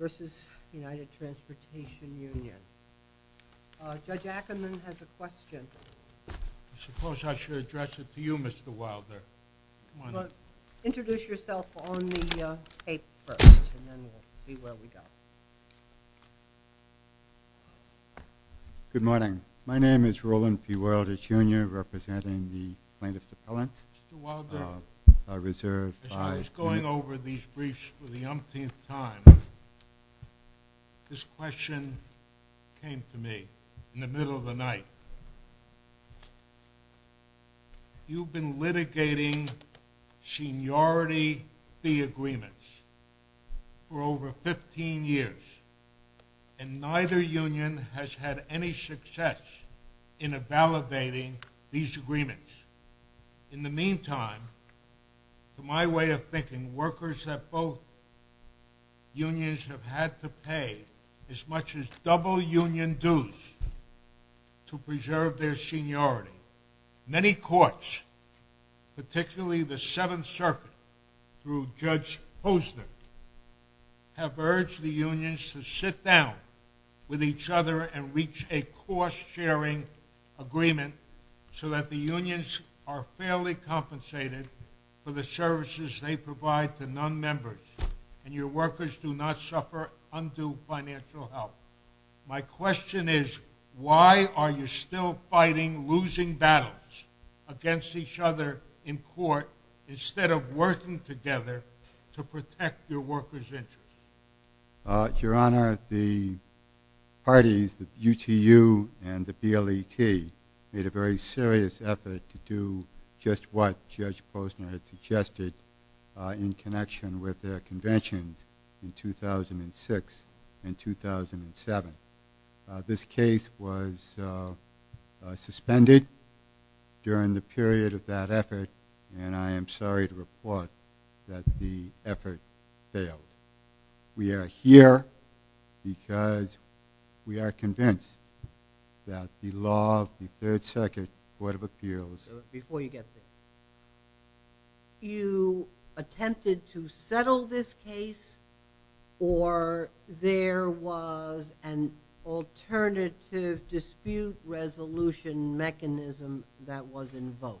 v. United Transportation Union. Judge Ackerman has a question. I suppose I should address it to you, Mr. Wilder. Introduce yourself on the tape first, and then we'll see where we go. Good morning. My name is Roland P. Wilder, Jr., representing the plaintiff's appellant. Mr. Wilder, as I was going over these briefs for the umpteenth time, this question came to me in the middle of the night. You've been litigating seniority fee agreements for over 15 years, and neither union has had any success in evaluating these agreements. In the meantime, to my way of thinking, workers at both unions have had to pay as much as double union dues to preserve their seniority. Many courts, particularly the Seventh Circuit, through Judge Posner, have urged the unions to sit down with each other and reach a cost-sharing agreement so that the unions are fairly compensated for the services they provide to non-members and your workers do not suffer undue financial help. My question is, why are you still fighting, losing battles against each other in court instead of working together to protect your workers' interests? Your Honor, the parties, the UTU and the BLET, made a very serious effort to do just what Judge Posner had suggested in connection with their conventions in 2006 and 2007. This case was suspended during the period of that effort, and I am sorry to report that the effort failed. We are here because we are convinced that the law of the Third Circuit Court of Appeals… Before you get there, you attempted to settle this case or there was an alternative dispute resolution mechanism that was invoked?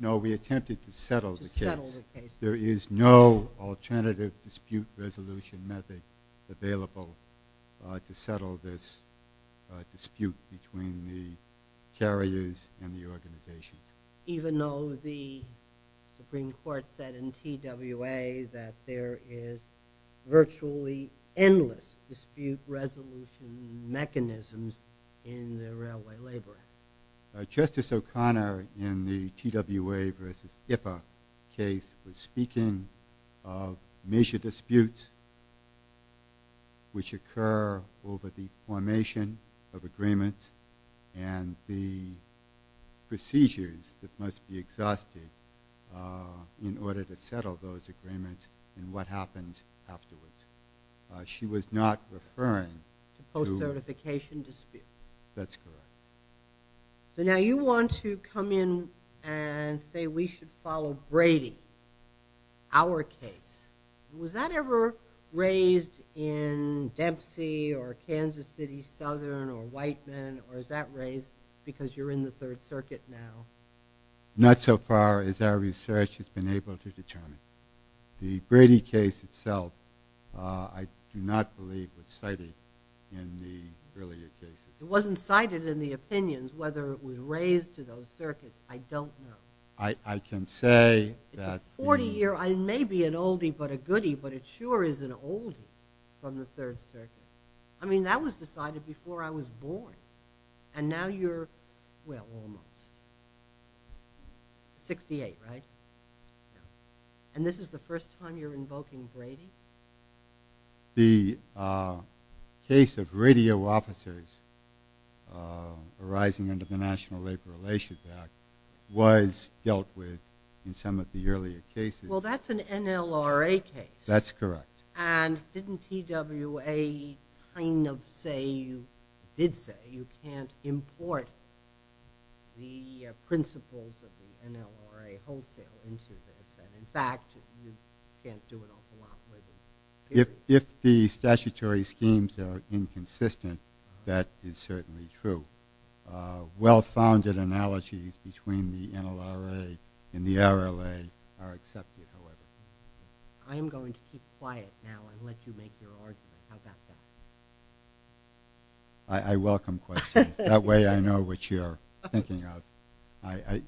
No, we attempted to settle the case. There is no alternative dispute resolution method available to settle this dispute between the carriers and the organizations. Even though the Supreme Court said in TWA that there is virtually endless dispute resolution mechanisms in the Railway Labor Act? Justice O'Connor in the TWA v. HIPAA case was speaking of major disputes which occur over the formation of agreements and the procedures that must be exhausted in order to settle those agreements and what happens afterwards. She was not referring to… Post-certification disputes. That's correct. So now you want to come in and say we should follow Brady, our case. Was that ever raised in Dempsey or Kansas City Southern or Whiteman or is that raised because you're in the Third Circuit now? Not so far as our research has been able to determine. The Brady case itself I do not believe was cited in the earlier cases. It wasn't cited in the opinions whether it was raised to those circuits. I don't know. I can say that… It's a 40-year, maybe an oldie but a goodie, but it sure is an oldie from the Third Circuit. I mean that was decided before I was born and now you're, well, almost. 68, right? And this is the first time you're invoking Brady? The case of radio officers arising under the National Labor Relations Act was dealt with in some of the earlier cases. Well, that's an NLRA case. That's correct. And didn't TWA kind of say, did say, you can't import the principles of the NLRA wholesale into this and in fact you can't do an awful lot with it? If the statutory schemes are inconsistent, that is certainly true. Well-founded analogies between the NLRA and the RLA are accepted, however. I am going to keep quiet now and let you make your argument. How about that? I welcome questions. That way I know what you're thinking of.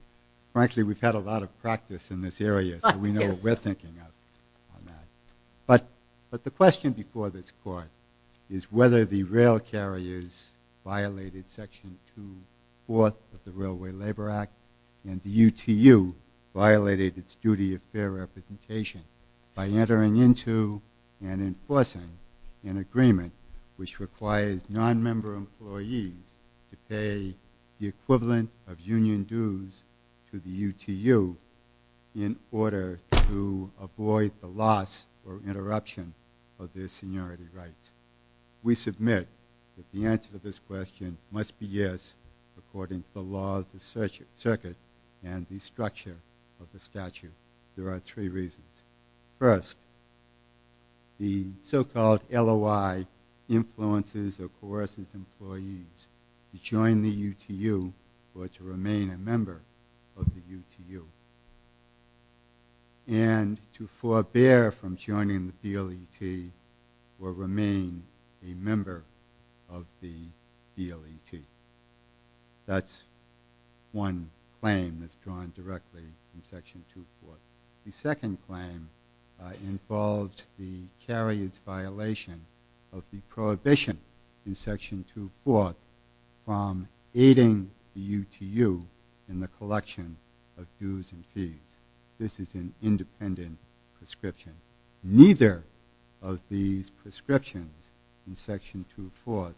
Frankly, we've had a lot of practice in this area, so we know what we're thinking of on that. But the question before this court is whether the rail carriers violated Section 2.4 of the Railway Labor Act and the UTU violated its duty of fair representation by entering into and enforcing an agreement which requires non-member employees to pay the equivalent of union dues to the UTU in order to avoid the loss or interruption of their seniority rights. We submit that the answer to this question must be yes according to the law of the circuit and the structure of the statute. There are three reasons. First, the so-called LOI influences or coerces employees to join the UTU or to remain a member of the UTU and to forbear from joining the DLET or remain a member of the DLET. That's one claim that's drawn directly from Section 2.4. The second claim involves the carrier's violation of the prohibition in Section 2.4 from aiding the UTU in the collection of dues and fees. This is an independent prescription. Neither of these prescriptions in Section 2.4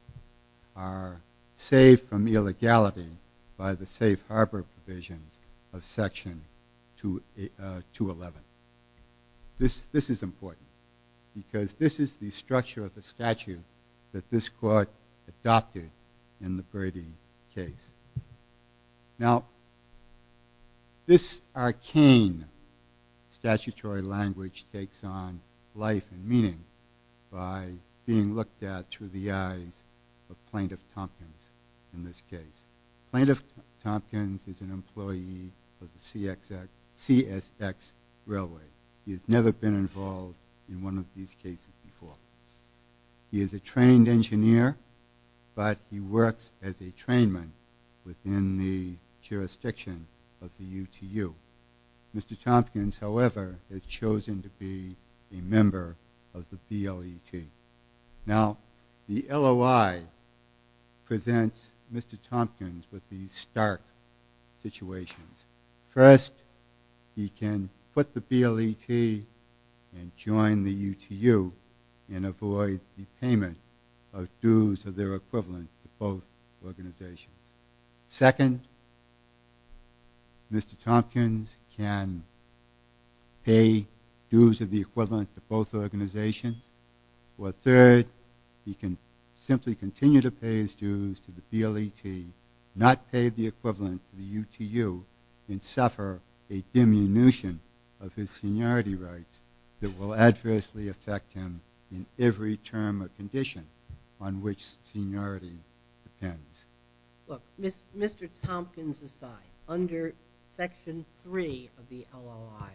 are saved from illegality by the safe harbor provisions of Section 2.11. This is important because this is the structure of the statute that this court adopted in the Brady case. Now, this arcane statutory language takes on life and meaning by being looked at through the eyes of Plaintiff Tompkins in this case. Plaintiff Tompkins is an employee of the CSX Railway. He has never been involved in one of these cases before. He is a trained engineer, but he works as a trainman within the jurisdiction of the UTU. Mr. Tompkins, however, is chosen to be a member of the DLET. Now, the LOI presents Mr. Tompkins with these stark situations. First, he can quit the DLET and join the UTU and avoid the payment of dues of their equivalent to both organizations. Second, Mr. Tompkins can pay dues of the equivalent to both organizations. Or third, he can simply continue to pay his dues to the DLET, not pay the equivalent to the UTU, and suffer a diminution of his seniority rights that will adversely affect him in every term or condition on which seniority depends. Look, Mr. Tompkins aside, under Section 3 of the LOI,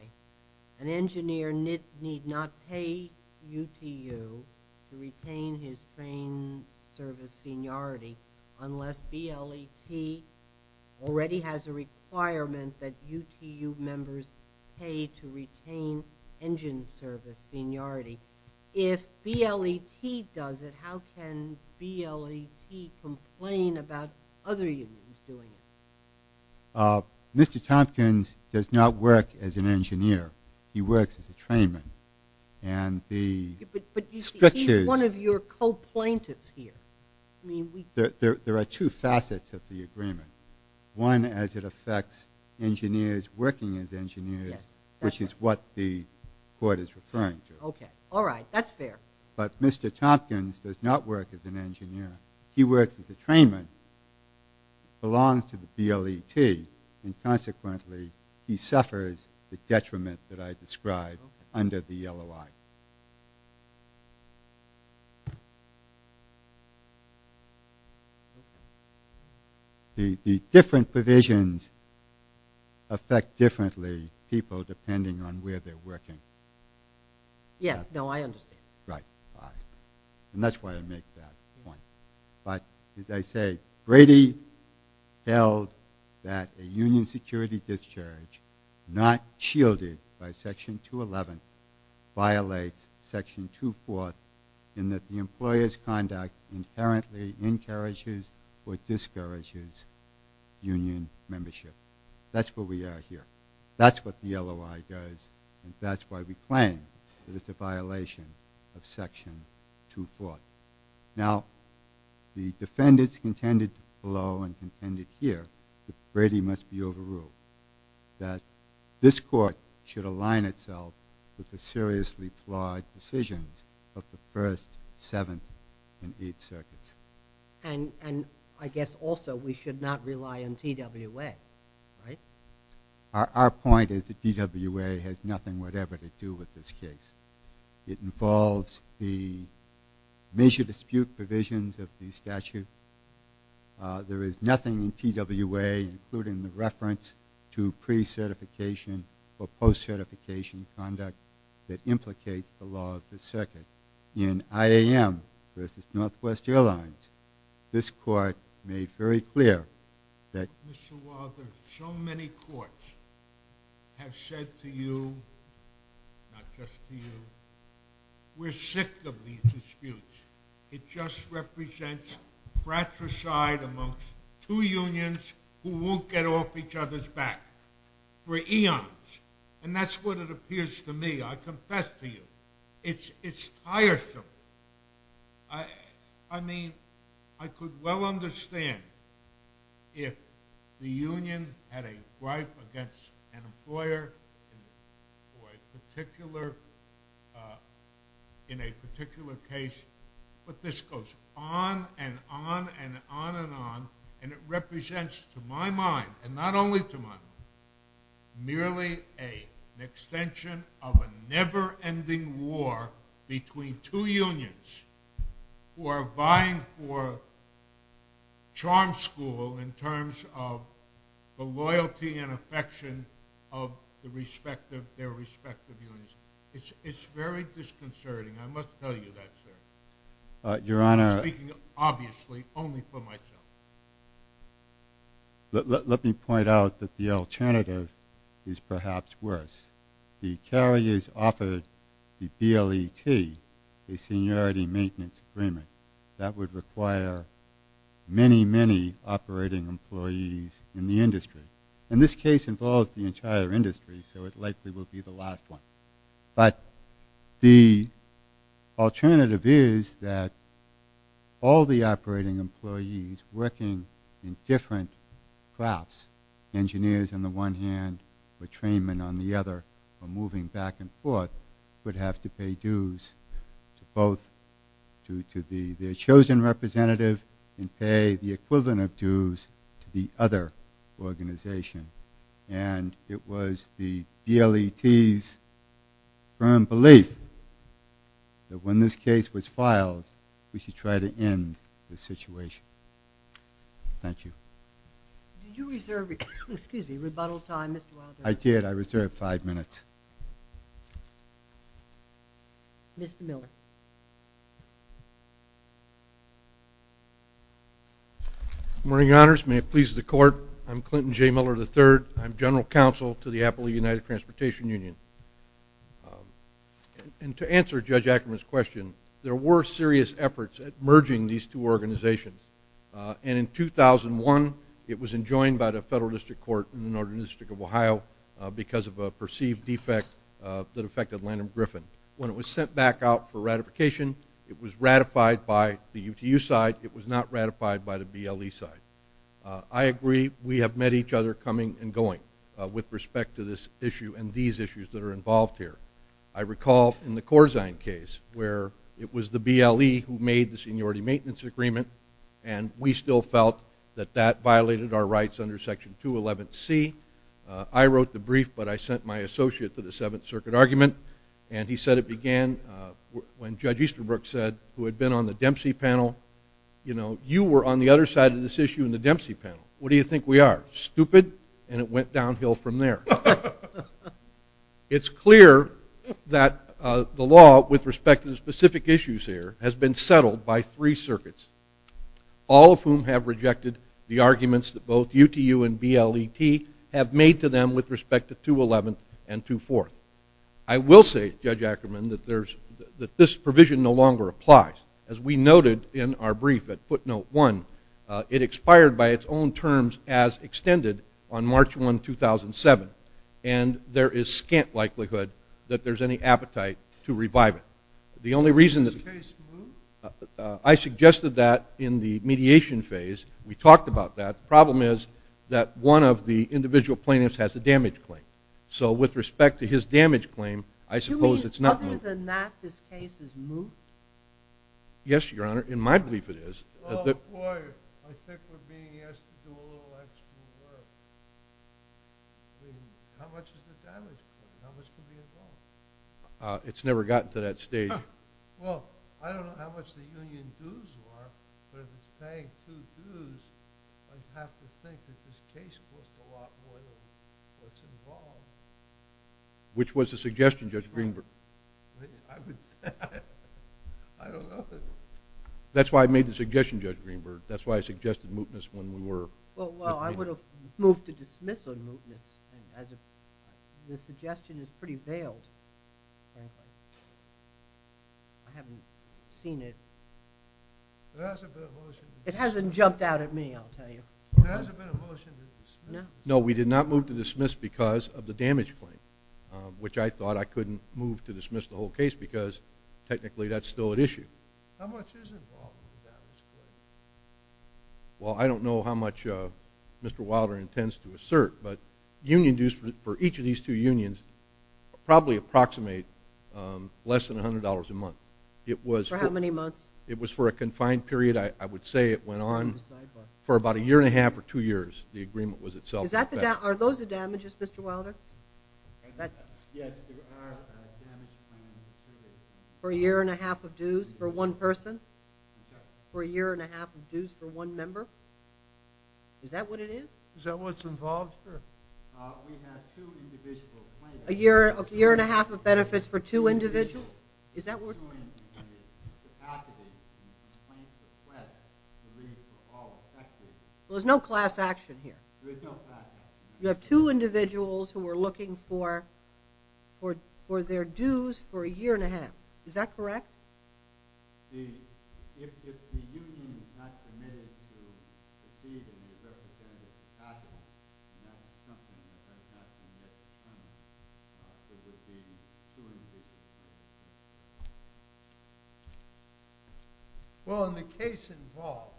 an engineer need not pay UTU to retain his train service seniority unless DLET already has a requirement that UTU members pay to retain engine service seniority. If DLET does it, how can DLET complain about other unions doing it? Mr. Tompkins does not work as an engineer. He works as a trainman. But he's one of your co-plaintiffs here. There are two facets of the agreement. One, as it affects engineers working as engineers, which is what the court is referring to. All right, that's fair. But Mr. Tompkins does not work as an engineer. He works as a trainman, belongs to the DLET, and consequently he suffers the detriment that I described under the LOI. The different provisions affect differently people depending on where they're working. Yes, no, I understand. Right, all right. And that's why I make that point. But as I say, Brady held that a union security discharge not shielded by Section 211 violates Section 2.4 in that the employer's conduct inherently encourages or discourages union membership. That's where we are here. That's what the LOI does, and that's why we claim that it's a violation of Section 2.4. Now, the defendants contended below and contended here that Brady must be overruled, that this court should align itself with the seriously flawed decisions of the first, seventh, and eighth circuits. And I guess also we should not rely on TWA, right? Our point is that TWA has nothing whatever to do with this case. It involves the major dispute provisions of the statute. There is nothing in TWA including the reference to pre-certification or post-certification conduct that implicates the law of the circuit. In IAM versus Northwest Airlines, this court made very clear that Mr. Walther, so many courts have said to you, not just to you, we're sick of these disputes. It just represents fratricide amongst two unions who won't get off each other's back for eons. And that's what it appears to me, I confess to you. It's tiresome. I mean, I could well understand if the union had a gripe against an employer in a particular case, but this goes on and on and on and on, and it represents to my mind, and not only to my mind, merely an extension of a never-ending war between two unions who are vying for charm school in terms of the loyalty and affection of their respective unions. It's very disconcerting, I must tell you that, sir. I'm speaking obviously only for myself. Let me point out that the alternative is perhaps worse. The carriers offered the DLET a seniority maintenance agreement that would require many, many operating employees in the industry. And this case involves the entire industry, so it likely will be the last one. But the alternative is that all the operating employees working in different crafts, engineers on the one hand, or trainmen on the other, are moving back and forth, would have to pay dues to both, to their chosen representative, and pay the equivalent of dues to the other organization. And it was the DLET's firm belief that when this case was filed, we should try to end the situation. Thank you. Did you reserve, excuse me, rebuttal time, Mr. Wilder? I did. I reserved five minutes. Mr. Miller. Good morning, Your Honors. May it please the Court, I'm Clinton J. Miller III. I'm General Counsel to the Appellate United Transportation Union. And to answer Judge Ackerman's question, there were serious efforts at merging these two organizations. And in 2001, it was enjoined by the Federal District Court in the Northern District of Ohio because of a perceived defect that affected Lanham Griffin. When it was sent back out for ratification, it was ratified by the UTU side. It was not ratified by the BLE side. I agree, we have met each other coming and going with respect to this issue and these issues that are involved here. I recall in the Corzine case, where it was the BLE who made the seniority maintenance agreement, and we still felt that that violated our rights under Section 211C. I wrote the brief, but I sent my associate to the Seventh Circuit argument, and he said it began when Judge Easterbrook said, who had been on the Dempsey panel, you know, you were on the other side of this issue in the Dempsey panel. What do you think we are, stupid? And it went downhill from there. It's clear that the law with respect to the specific issues here has been settled by three circuits, all of whom have rejected the arguments that both UTU and BLET have made to them with respect to 211 and 24. I will say, Judge Ackerman, that this provision no longer applies. As we noted in our brief at footnote one, it expired by its own terms as extended on March 1, 2007. And there is scant likelihood that there is any appetite to revive it. The only reason that... Is this case moved? I suggested that in the mediation phase. We talked about that. The problem is that one of the individual plaintiffs has a damage claim. So with respect to his damage claim, I suppose it's not moved. Other than that, this case is moved? Yes, Your Honor. In my belief it is. Well, boy, I think we're being asked to do a little extra work. I mean, how much is the damage claim? How much could be involved? It's never gotten to that stage. Well, I don't know how much the union dues are, but if it's paying two dues, I'd have to think that this case costs a lot more than what's involved. Which was the suggestion, Judge Greenberg? I would... I don't know. That's why I made the suggestion, Judge Greenberg. That's why I suggested mootness when we were... Well, I would have moved to dismiss on mootness. The suggestion is pretty veiled. I haven't seen it. There hasn't been a motion to dismiss. It hasn't jumped out at me, I'll tell you. There hasn't been a motion to dismiss. No, we did not move to dismiss because of the damage claim, which I thought I couldn't move to dismiss the whole case because technically that's still at issue. How much is involved in the damage claim? Well, I don't know how much Mr. Wilder intends to assert, but union dues for each of these two unions probably approximate less than $100 a month. For how many months? It was for a confined period, I would say it went on for about a year and a half or two years, the agreement was itself. Are those the damages, Mr. Wilder? Yes, they are damage claims. For a year and a half of dues for one person? Yes. For a year and a half of dues for one member? Is that what it is? Is that what's involved? We have two individual claims. A year and a half of benefits for two individuals? Two individuals. Is that what... Two individuals. There's no class action here. There's no class action. You have two individuals who are looking for their dues for a year and a half. Is that correct? Well, in the case involved,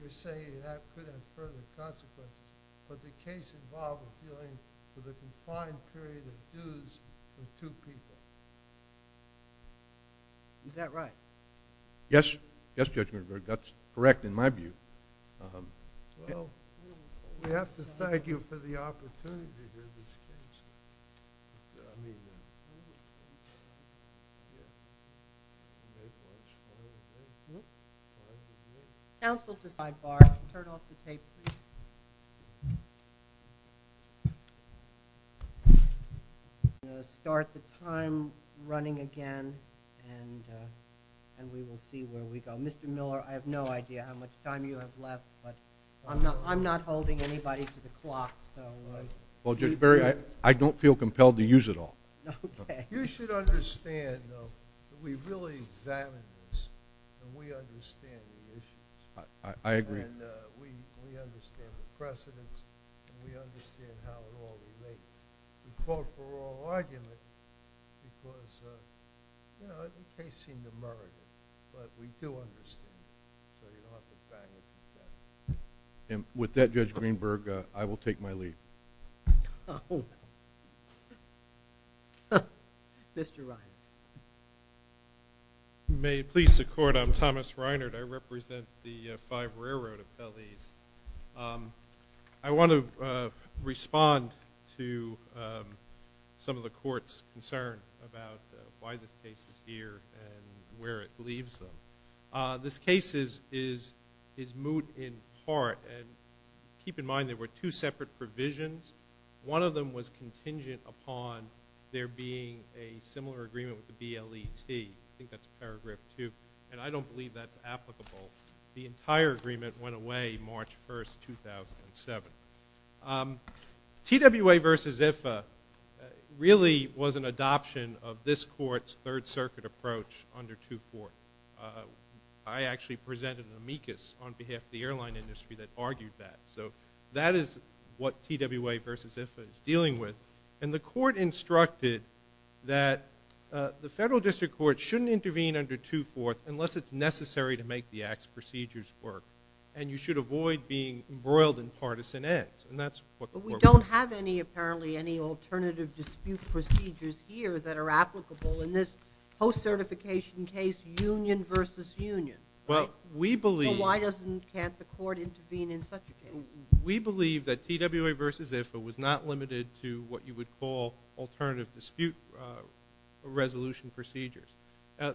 you're saying that could have further consequences. But the case involved was dealing with a confined period of dues for two people. Is that right? Yes, Judge Ginsburg. That's correct in my view. Well, we have to thank you for the opportunity to do this case. Counsel to sidebar, turn off the tape, please. Thank you. We're going to start the time running again and we will see where we go. Mr. Miller, I have no idea how much time you have left, but I'm not holding anybody to the clock. Well, Judge Berry, I don't feel compelled to use it all. You should understand, though, that we really examined this and we understand the issues. I agree. And we understand the precedents and we understand how it all relates. We fought for all arguments because, you know, the case seemed emergent. But we do understand that it ought to be evaluated. And with that, Judge Greenberg, I will take my leave. Oh. Mr. Reiner. May it please the Court, I'm Thomas Reiner. I represent the Five Railroad of Belize. I want to respond to some of the Court's concern about why this case is here and where it leaves them. This case is moot in part. And keep in mind there were two separate provisions. One of them was contingent upon there being a similar agreement with the BLET. I think that's paragraph two. And I don't believe that's applicable. The entire agreement went away March 1, 2007. TWA v. IFA really was an adoption of this Court's Third Circuit approach under 2.4. I actually presented an amicus on behalf of the airline industry that argued that. So that is what TWA v. IFA is dealing with. And the Court instructed that the Federal District Court shouldn't intervene under 2.4 unless it's necessary to make the Act's procedures work. And you should avoid being embroiled in partisan ends. And that's what the Court would do. But we don't have any, apparently, any alternative dispute procedures here that are applicable in this post-certification case, union v. union, right? So why can't the Court intervene in such a case? We believe that TWA v. IFA was not limited to what you would call alternative dispute resolution procedures.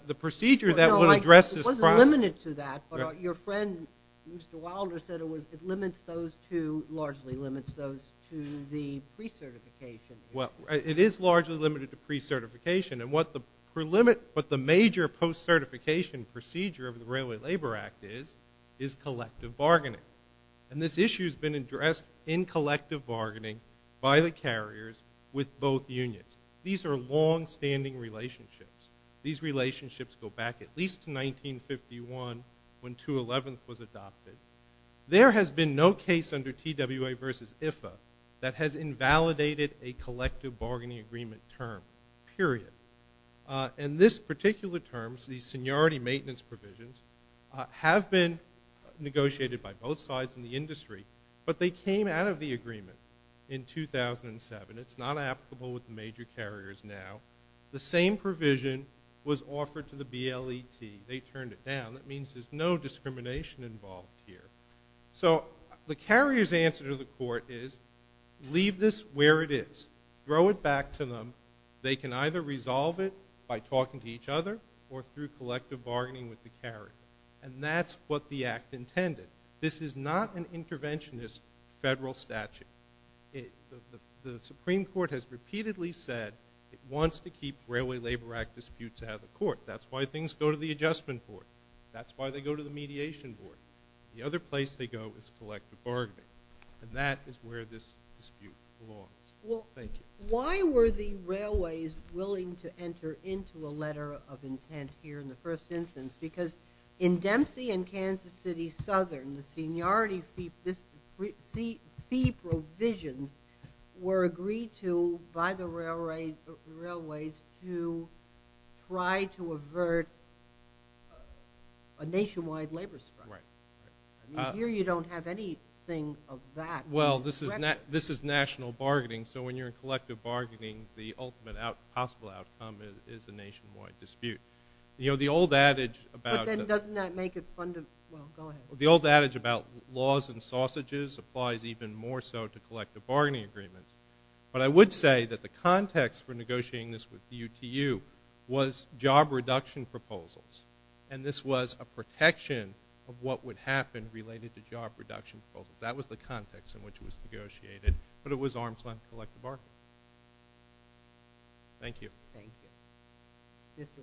The procedure that would address this process... No, it wasn't limited to that. But your friend, Mr. Wilder, said it limits those to, largely limits those to the pre-certification. Well, it is largely limited to pre-certification. And what the major post-certification procedure of the Railway Labor Act is, is collective bargaining. And this issue has been addressed in collective bargaining by the carriers with both unions. These are longstanding relationships. These relationships go back at least to 1951, when 211th was adopted. There has been no case under TWA v. IFA that has invalidated a collective bargaining agreement term. Period. And this particular term, these seniority maintenance provisions, have been negotiated by both sides in the industry. But they came out of the agreement in 2007. It's not applicable with the major carriers now. The same provision was offered to the BLET. They turned it down. That means there's no discrimination involved here. So the carrier's answer to the court is, leave this where it is. Throw it back to them. They can either resolve it by talking to each other or through collective bargaining with the carrier. And that's what the act intended. This is not an interventionist federal statute. The Supreme Court has repeatedly said that it wants to keep Railway Labor Act disputes out of the court. That's why things go to the Adjustment Board. That's why they go to the Mediation Board. The other place they go is collective bargaining. And that is where this dispute belongs. Thank you. Why were the railways willing to enter into a letter of intent here in the first instance? Because in Dempsey and Kansas City Southern, the seniority fee provisions were agreed to by the railways to try to avert a nationwide labor strike. Right. Here you don't have anything of that. Well, this is national bargaining. So when you're in collective bargaining, the ultimate possible outcome is a nationwide dispute. You know, the old adage about... But then doesn't that make it fun to... Well, go ahead. The old adage about laws and sausages applies even more so in the way that the context for negotiating this with the UTU was job reduction proposals. And this was a protection of what would happen related to job reduction proposals. That was the context in which it was negotiated. But it was arms-length collective bargaining. Thank you. Thank you. Yes, sir.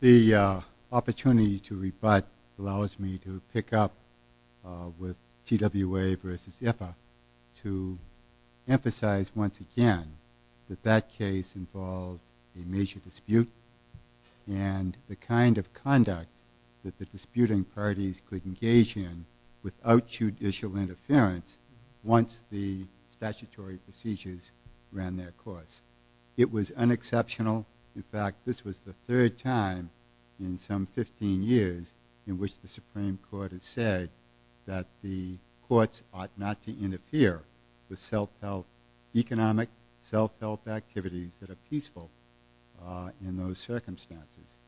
The opportunity to rebut allows me to pick up with TWA versus IFA to emphasize once again that that case involved a major dispute and the kind of conduct could engage in without the need to negotiate a major dispute with TWA versus IFA. Without judicial interference once the statutory procedures ran their course. It was unexceptional. In fact, this was the third time in some 15 years in which the Supreme Court has said that the courts ought not to interfere with economic, self-help activities that are peaceful in those circumstances.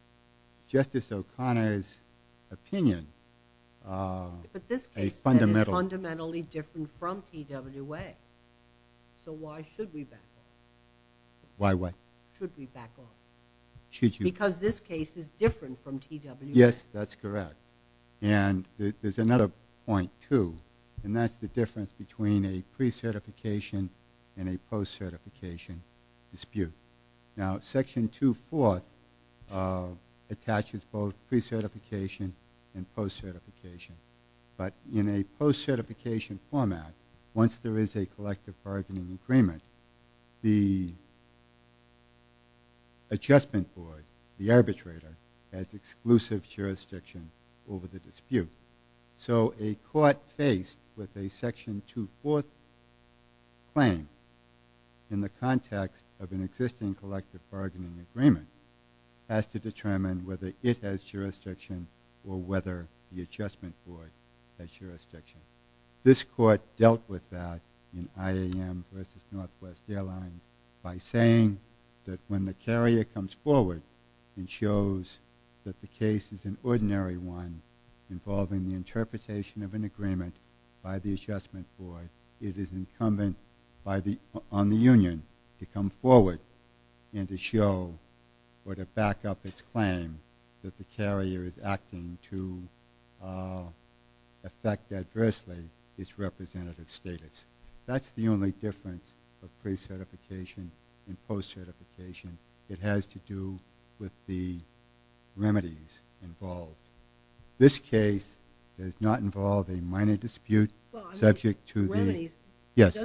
Justice O'Connor's opinion But this case is fundamentally different from TWA. So why should we back off? Why what? Should we back off? Because this case is different from TWA. Yes, that's correct. And there's another point, too. And that's the difference between a pre-certification and a post-certification dispute. Now, Section 2.4 attaches both pre-certification and post-certification. But in a post-certification format, once there is a collective bargaining agreement, the adjustment board, the arbitrator, has exclusive jurisdiction over the dispute. So a court faced with a Section 2.4 claim in the context of an existing collective bargaining agreement has to determine whether it has jurisdiction or whether the adjustment board has jurisdiction. This court dealt with that in IAM versus Northwest Airlines by saying that when the carrier comes forward and shows that the case is an ordinary one involving the interpretation of an agreement by the adjustment board, it is incumbent on the union to come forward and to show or to back up its claim that the carrier is acting to affect adversely its representative status. That's the only difference of pre-certification and post-certification. It has to do with the remedies involved. This case does not involve a minor dispute subject to the... Remedies? Yes.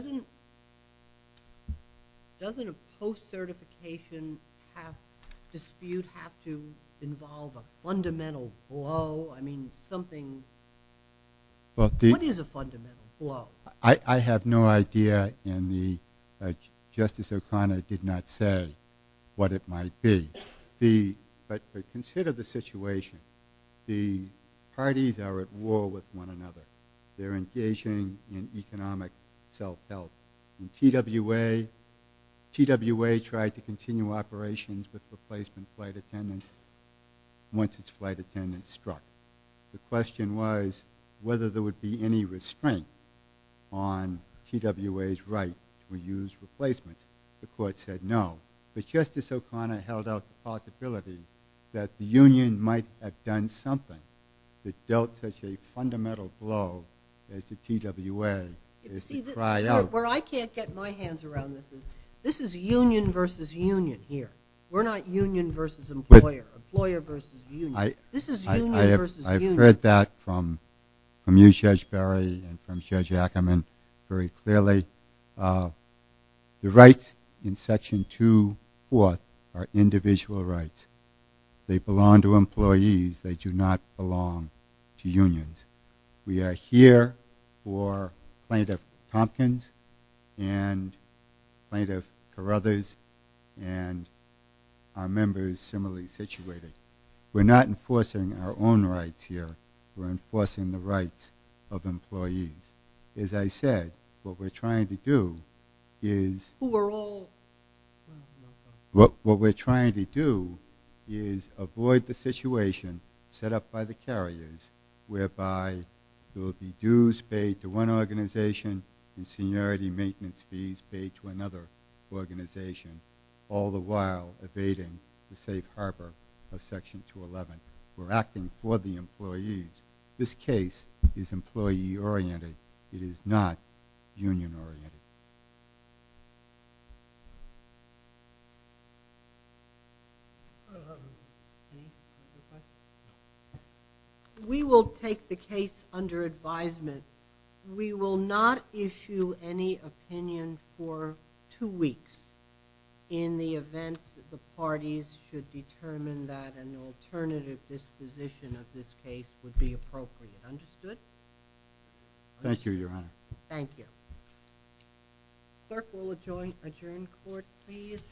Doesn't a post-certification dispute have to involve a fundamental blow? I mean something... What is a fundamental blow? I have no idea and Justice O'Connor did not say what it might be. But consider the situation. The parties are at war with one another. They're engaging in economic self-defense. And TWA... TWA tried to continue operations with replacement flight attendants once its flight attendants struck. The question was whether there would be any restraint on TWA's right to use replacements. The court said no. But Justice O'Connor held out the possibility that the union might have done something that dealt such a fundamental blow as the TWA is to try out... Where I can't get my hands around this is this is union versus union here. We're not union versus employer. Employer versus union. This is union versus union. I've heard that from you, Judge Barry and from Judge Ackerman very clearly. The rights in Section 2.4 are individual rights. They belong to employees. They do not belong to unions. We are here for Plaintiff Tompkins and Plaintiff Carruthers and our members similarly situated. We're not enforcing our own rights here. We're enforcing the rights of employees. As I said, what we're trying to do is... We're all... What we're trying to do is avoid the situation set up by the carriers whereby there will be dues paid to one organization and seniority maintenance fees paid to another organization all the while evading the safe harbor of Section 2.11. We're acting for the employees. This case is employee oriented. It is not union oriented. We will take the case under advisement. We will not issue any opinion for two weeks in the event that the parties should determine that an alternative disposition of this case would be appropriate. Understood? Thank you, Your Honor. Thank you. Clerk, we'll adjourn court, please.